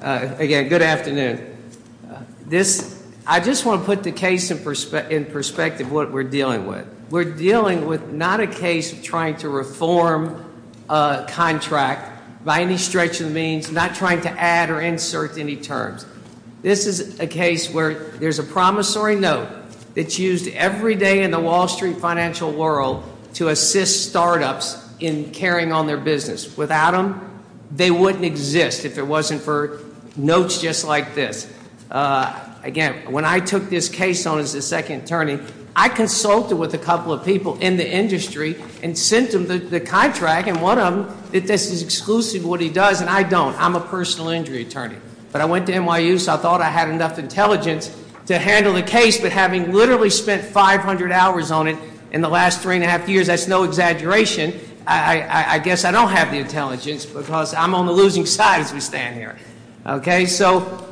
Again, good afternoon. I just want to put the case in perspective what we're dealing with. We're dealing with not a case of trying to reform a contract by any stretch of the means, not trying to add or insert any terms. This is a case where there's a promissory note that's used every day in the Wall Street financial world to assist startups in carrying on their business. Without them, they wouldn't exist if it wasn't for notes just like this. Again, when I took this case on as a second attorney, I consulted with a couple of people in the industry and sent them the contract, and one of them said this is exclusive to what he does, and I don't. I'm a personal injury attorney. But I went to NYU, so I thought I had enough intelligence to handle the case, but having literally spent 500 hours on it in the last three and a half years, that's no exaggeration. I guess I don't have the intelligence because I'm on the losing side as we stand here. Okay, so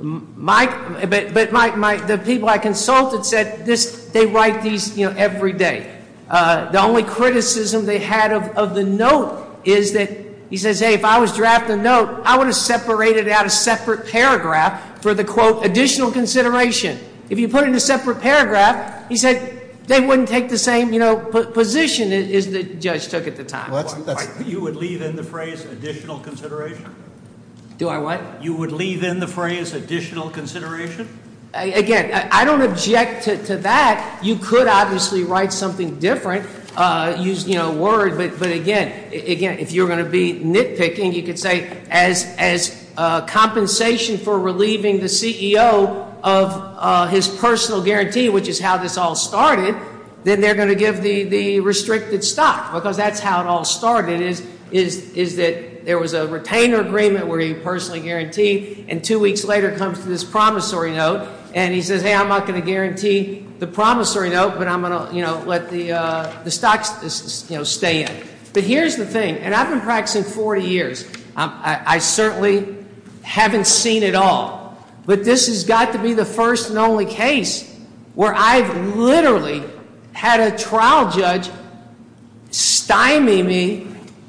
the people I consulted said they write these every day. The only criticism they had of the note is that he says, hey, if I was drafted a note, I would have separated out a separate paragraph for the, quote, additional consideration. If you put in a separate paragraph, he said they wouldn't take the same position as the judge took at the time. You would leave in the phrase additional consideration? Do I what? You would leave in the phrase additional consideration? Again, I don't object to that. You could obviously write something different, use word, but again, if you're going to be nitpicking, you could say as compensation for relieving the CEO of his personal guarantee, which is how this all started, then they're going to give the restricted stock because that's how it all started, is that there was a retainer agreement where he personally guaranteed, and two weeks later comes this promissory note, and he says, hey, I'm not going to guarantee the promissory note, but I'm going to, you know, let the stocks, you know, stay in. But here's the thing, and I've been practicing 40 years. I certainly haven't seen it all, but this has got to be the first and only case where I've literally had a trial judge stymie me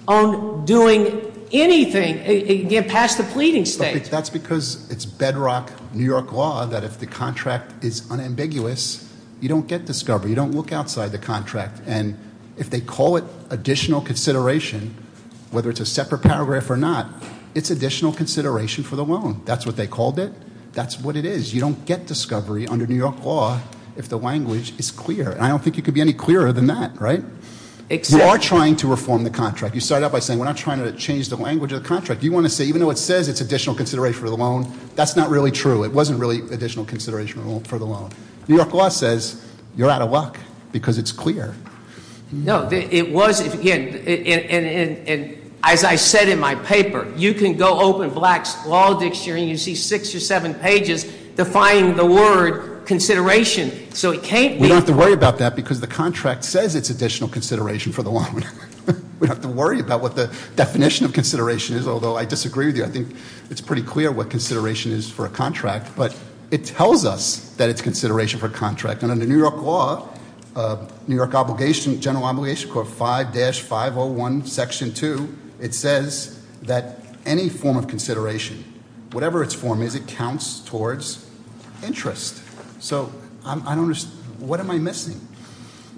on doing anything, again, past the pleading stage. That's because it's bedrock New York law that if the contract is unambiguous, you don't get discovery. You don't look outside the contract, and if they call it additional consideration, whether it's a separate paragraph or not, it's additional consideration for the loan. That's what they called it. That's what it is. You don't get discovery under New York law if the language is clear, and I don't think it could be any clearer than that, right? You are trying to reform the contract. You started out by saying we're not trying to change the language of the contract. You want to say even though it says it's additional consideration for the loan, that's not really true. It wasn't really additional consideration for the loan. New York law says you're out of luck because it's clear. No, it was, again, and as I said in my paper, you can go open Black's Law Dictionary and you see six or seven pages defying the word consideration. So it can't be- We don't have to worry about that because the contract says it's additional consideration for the loan. We don't have to worry about what the definition of consideration is, although I disagree with you. I think it's pretty clear what consideration is for a contract, but it tells us that it's consideration for a contract. And under New York law, New York General Obligation Court 5-501 Section 2, it says that any form of consideration, whatever its form is, it counts towards interest. So what am I missing?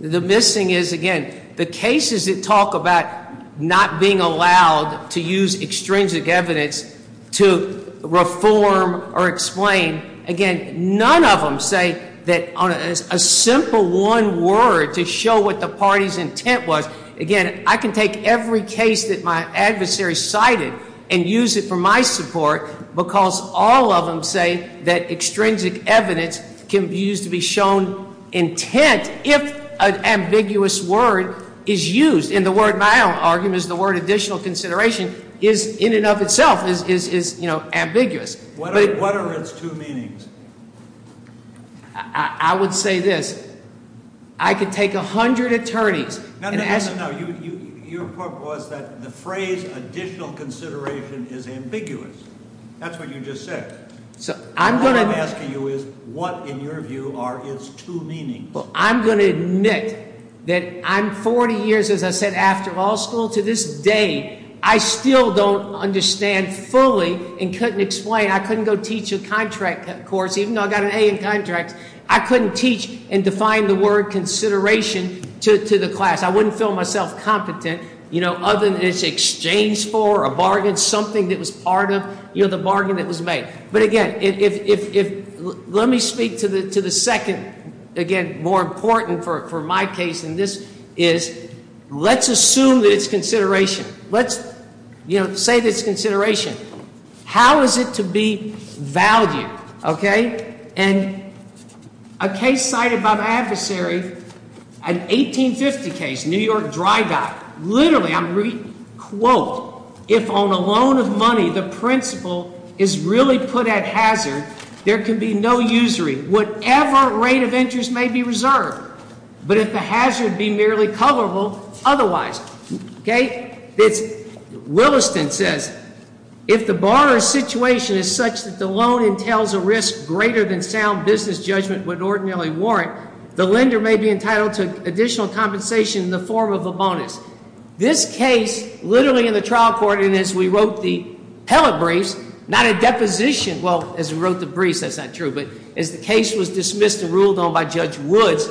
The missing is, again, the cases that talk about not being allowed to use extrinsic evidence to reform or explain. Again, none of them say that on a simple one word to show what the party's intent was. Again, I can take every case that my adversary cited and use it for my support because all of them say that extrinsic evidence can be used to be shown intent if an ambiguous word is used. And the word my argument is the word additional consideration is in and of itself is ambiguous. What are its two meanings? I would say this. I could take a hundred attorneys and ask- No, your point was that the phrase additional consideration is ambiguous. That's what you just said. What I'm asking you is what, in your view, are its two meanings? Well, I'm going to admit that I'm 40 years, as I said, after law school. To this day, I still don't understand fully and couldn't explain. I couldn't go teach a contract course, even though I got an A in contracts. I couldn't teach and define the word consideration to the class. I wouldn't feel myself competent other than it's exchanged for, a bargain, something that was part of the bargain that was made. But, again, let me speak to the second, again, more important for my case than this is. Let's assume that it's consideration. Let's say that it's consideration. How is it to be valued? And a case cited by my adversary, an 1850 case, New York Dry Dock. Literally, I'm quoting, if on a loan of money the principal is really put at hazard, there can be no usury, whatever rate of interest may be reserved. But if the hazard be merely coverable, otherwise. Williston says, if the borrower's situation is such that the loan entails a risk greater than sound business judgment would ordinarily warrant, the lender may be entitled to additional compensation in the form of a bonus. This case, literally in the trial court, and as we wrote the telebriefs, not a deposition, well, as we wrote the briefs, that's not true, but as the case was dismissed and ruled on by Judge Woods,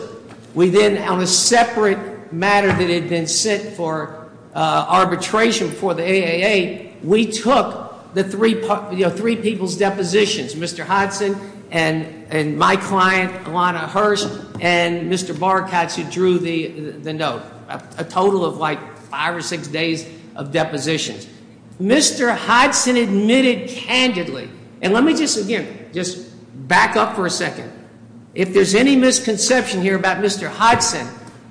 we then, on a separate matter that had been set for arbitration for the AAA, we took the three people's depositions, Mr. Hudson and my client, Ilana Hirsch, and Mr. Barkatz, who drew the note, a total of like five or six days of depositions. Mr. Hudson admitted candidly, and let me just, again, just back up for a second. If there's any misconception here about Mr. Hudson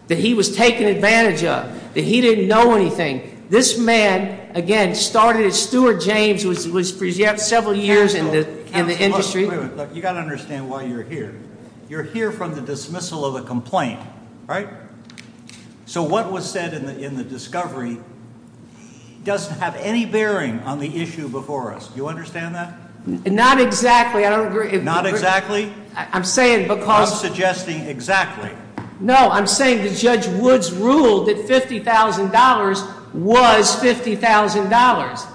that he was taken advantage of, that he didn't know anything, this man, again, started as Stuart James, was present several years in the industry. Wait a minute. You've got to understand why you're here. You're here from the dismissal of a complaint, right? So what was said in the discovery doesn't have any bearing on the issue before us. Do you understand that? Not exactly. I don't agree. Not exactly? I'm saying because- I'm suggesting exactly. No, I'm saying that Judge Woods ruled that $50,000 was $50,000.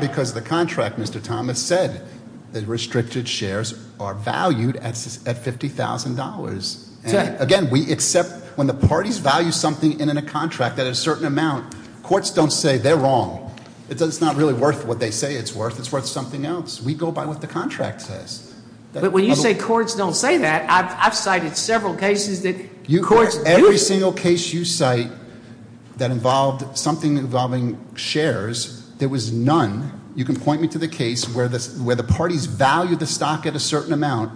Because the contract, Mr. Thomas, said that restricted shares are valued at $50,000. Again, we accept when the parties value something in a contract at a certain amount, courts don't say they're wrong. It's not really worth what they say it's worth. It's worth something else. We go by what the contract says. But when you say courts don't say that, I've cited several cases that courts do. Every single case you cite that involved something involving shares, there was none. You can point me to the case where the parties valued the stock at a certain amount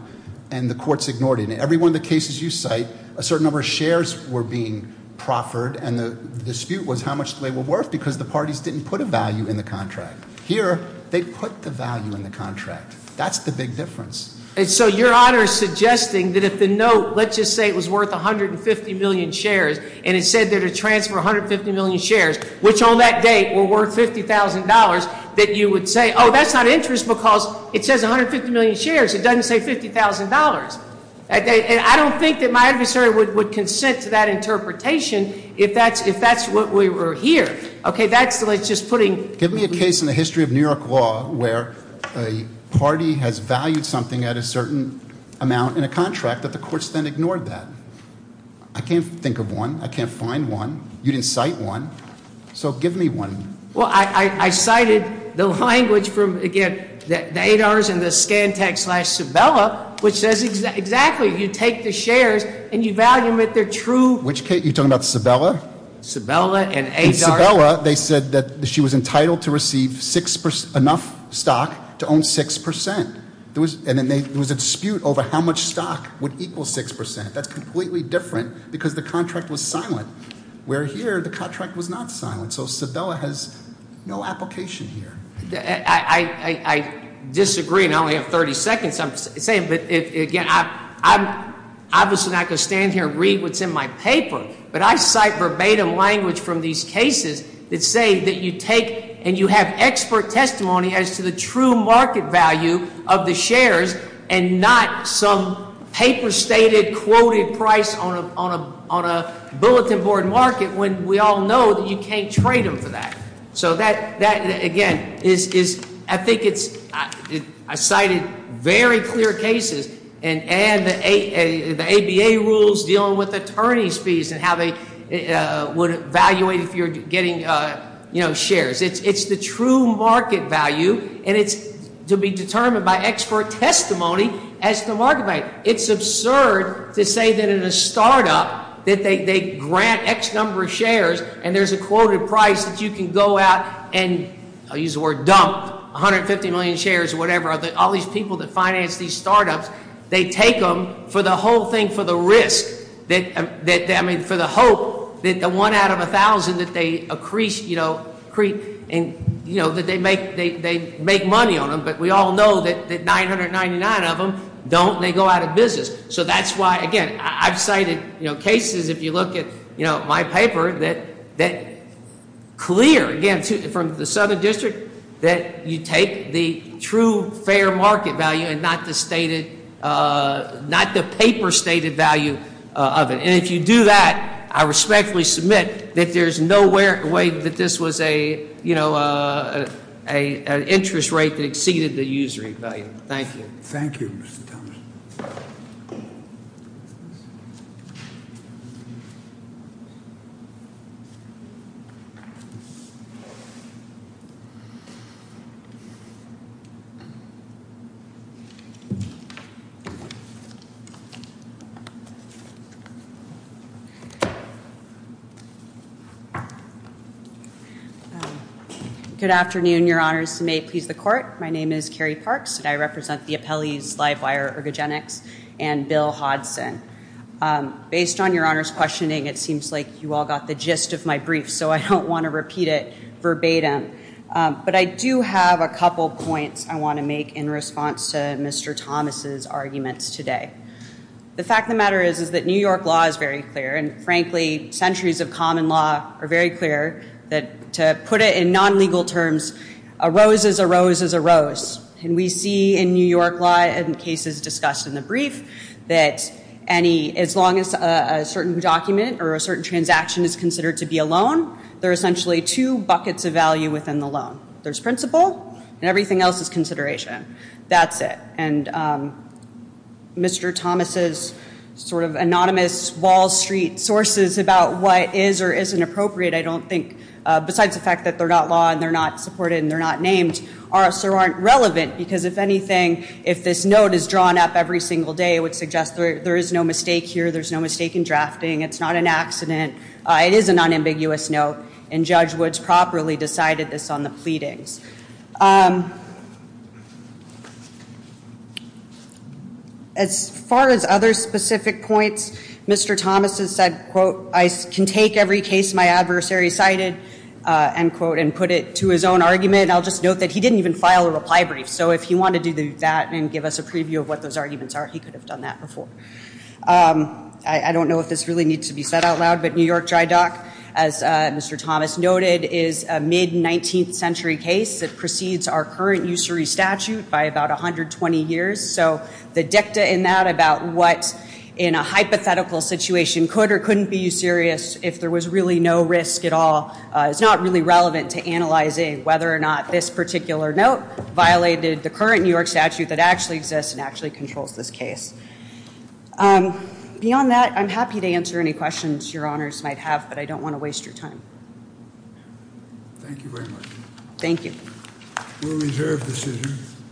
and the courts ignored it. In every one of the cases you cite, a certain number of shares were being proffered, and the dispute was how much they were worth because the parties didn't put a value in the contract. Here, they put the value in the contract. That's the big difference. And so your Honor is suggesting that if the note, let's just say it was worth 150 million shares, and it said there to transfer 150 million shares, which on that date were worth $50,000, that you would say, oh, that's not interest because it says 150 million shares. It doesn't say $50,000. I don't think that my adversary would consent to that interpretation if that's what we were here. Okay, that's like just putting- Give me a case in the history of New York law where a party has valued something at a certain amount in a contract that the courts then ignored that. I can't think of one. I can't find one. You didn't cite one. So give me one. Well, I cited the language from, again, the ADARS and the Scantech slash Cibella, which says exactly, you take the shares and you value them at their true- Which case? You're talking about Cibella? Cibella and ADARS? In Cibella, they said that she was entitled to receive enough stock to own 6%. And then there was a dispute over how much stock would equal 6%. That's completely different because the contract was silent, where here the contract was not silent. So Cibella has no application here. I disagree, and I only have 30 seconds. I'm saying, but again, I'm obviously not going to stand here and read what's in my paper, but I cite verbatim language from these cases that say that you take and you have expert testimony as to the true market value of the shares and not some paper-stated, quoted price on a bulletin board market when we all know that you can't trade them for that. So that, again, is, I think it's, I cited very clear cases and the ABA rules dealing with attorney's fees and how they would evaluate if you're getting shares. It's the true market value, and it's to be determined by expert testimony as to the market value. It's absurd to say that in a startup that they grant X number of shares and there's a quoted price that you can go out and, I'll use the word dump, 150 million shares or whatever. All these people that finance these startups, they take them for the whole thing for the risk. I mean, for the hope that the one out of 1,000 that they increase, that they make money on them, but we all know that 999 of them don't, they go out of business. So that's why, again, I've cited cases, if you look at my paper, that clear, again, from the Southern District, that you take the true fair market value and not the paper-stated value of it. And if you do that, I respectfully submit that there's no way that this was an interest rate that exceeded the user value. Thank you. Thank you, Mr. Thomas. Good afternoon, Your Honors. My name is Carrie Parks, and I represent the appellees Livewire Ergogenics and Bill Hodson. Based on Your Honor's questioning, it seems like you all got the gist of my brief, so I don't want to repeat it verbatim. But I do have a couple points I want to make in response to Mr. Thomas's arguments today. The fact of the matter is that New York law is very clear, and frankly, And we see in New York law and cases discussed in the brief that as long as a certain document or a certain transaction is considered to be a loan, there are essentially two buckets of value within the loan. There's principle, and everything else is consideration. That's it. And Mr. Thomas's sort of anonymous Wall Street sources about what is or isn't appropriate, I don't think, besides the fact that they're not law and they're not supported and they're not named, are or aren't relevant, because if anything, if this note is drawn up every single day, it would suggest there is no mistake here. There's no mistake in drafting. It's not an accident. It is an unambiguous note, and Judge Woods properly decided this on the pleadings. As far as other specific points, Mr. Thomas has said, quote, I can take every case my adversary cited, end quote, and put it to his own argument. I'll just note that he didn't even file a reply brief. So if he wanted to do that and give us a preview of what those arguments are, he could have done that before. I don't know if this really needs to be said out loud, but New York Dry Dock, as Mr. Thomas noted, is a mid-19th century case that precedes our current usury statute by about 120 years. So the dicta in that about what in a hypothetical situation could or couldn't be usurious if there was really no risk at all is not really relevant to analyzing whether or not this particular note violated the current New York statute that actually exists and actually controls this case. Beyond that, I'm happy to answer any questions your honors might have, but I don't want to waste your time. Thank you very much. Thank you. We'll reserve the decision.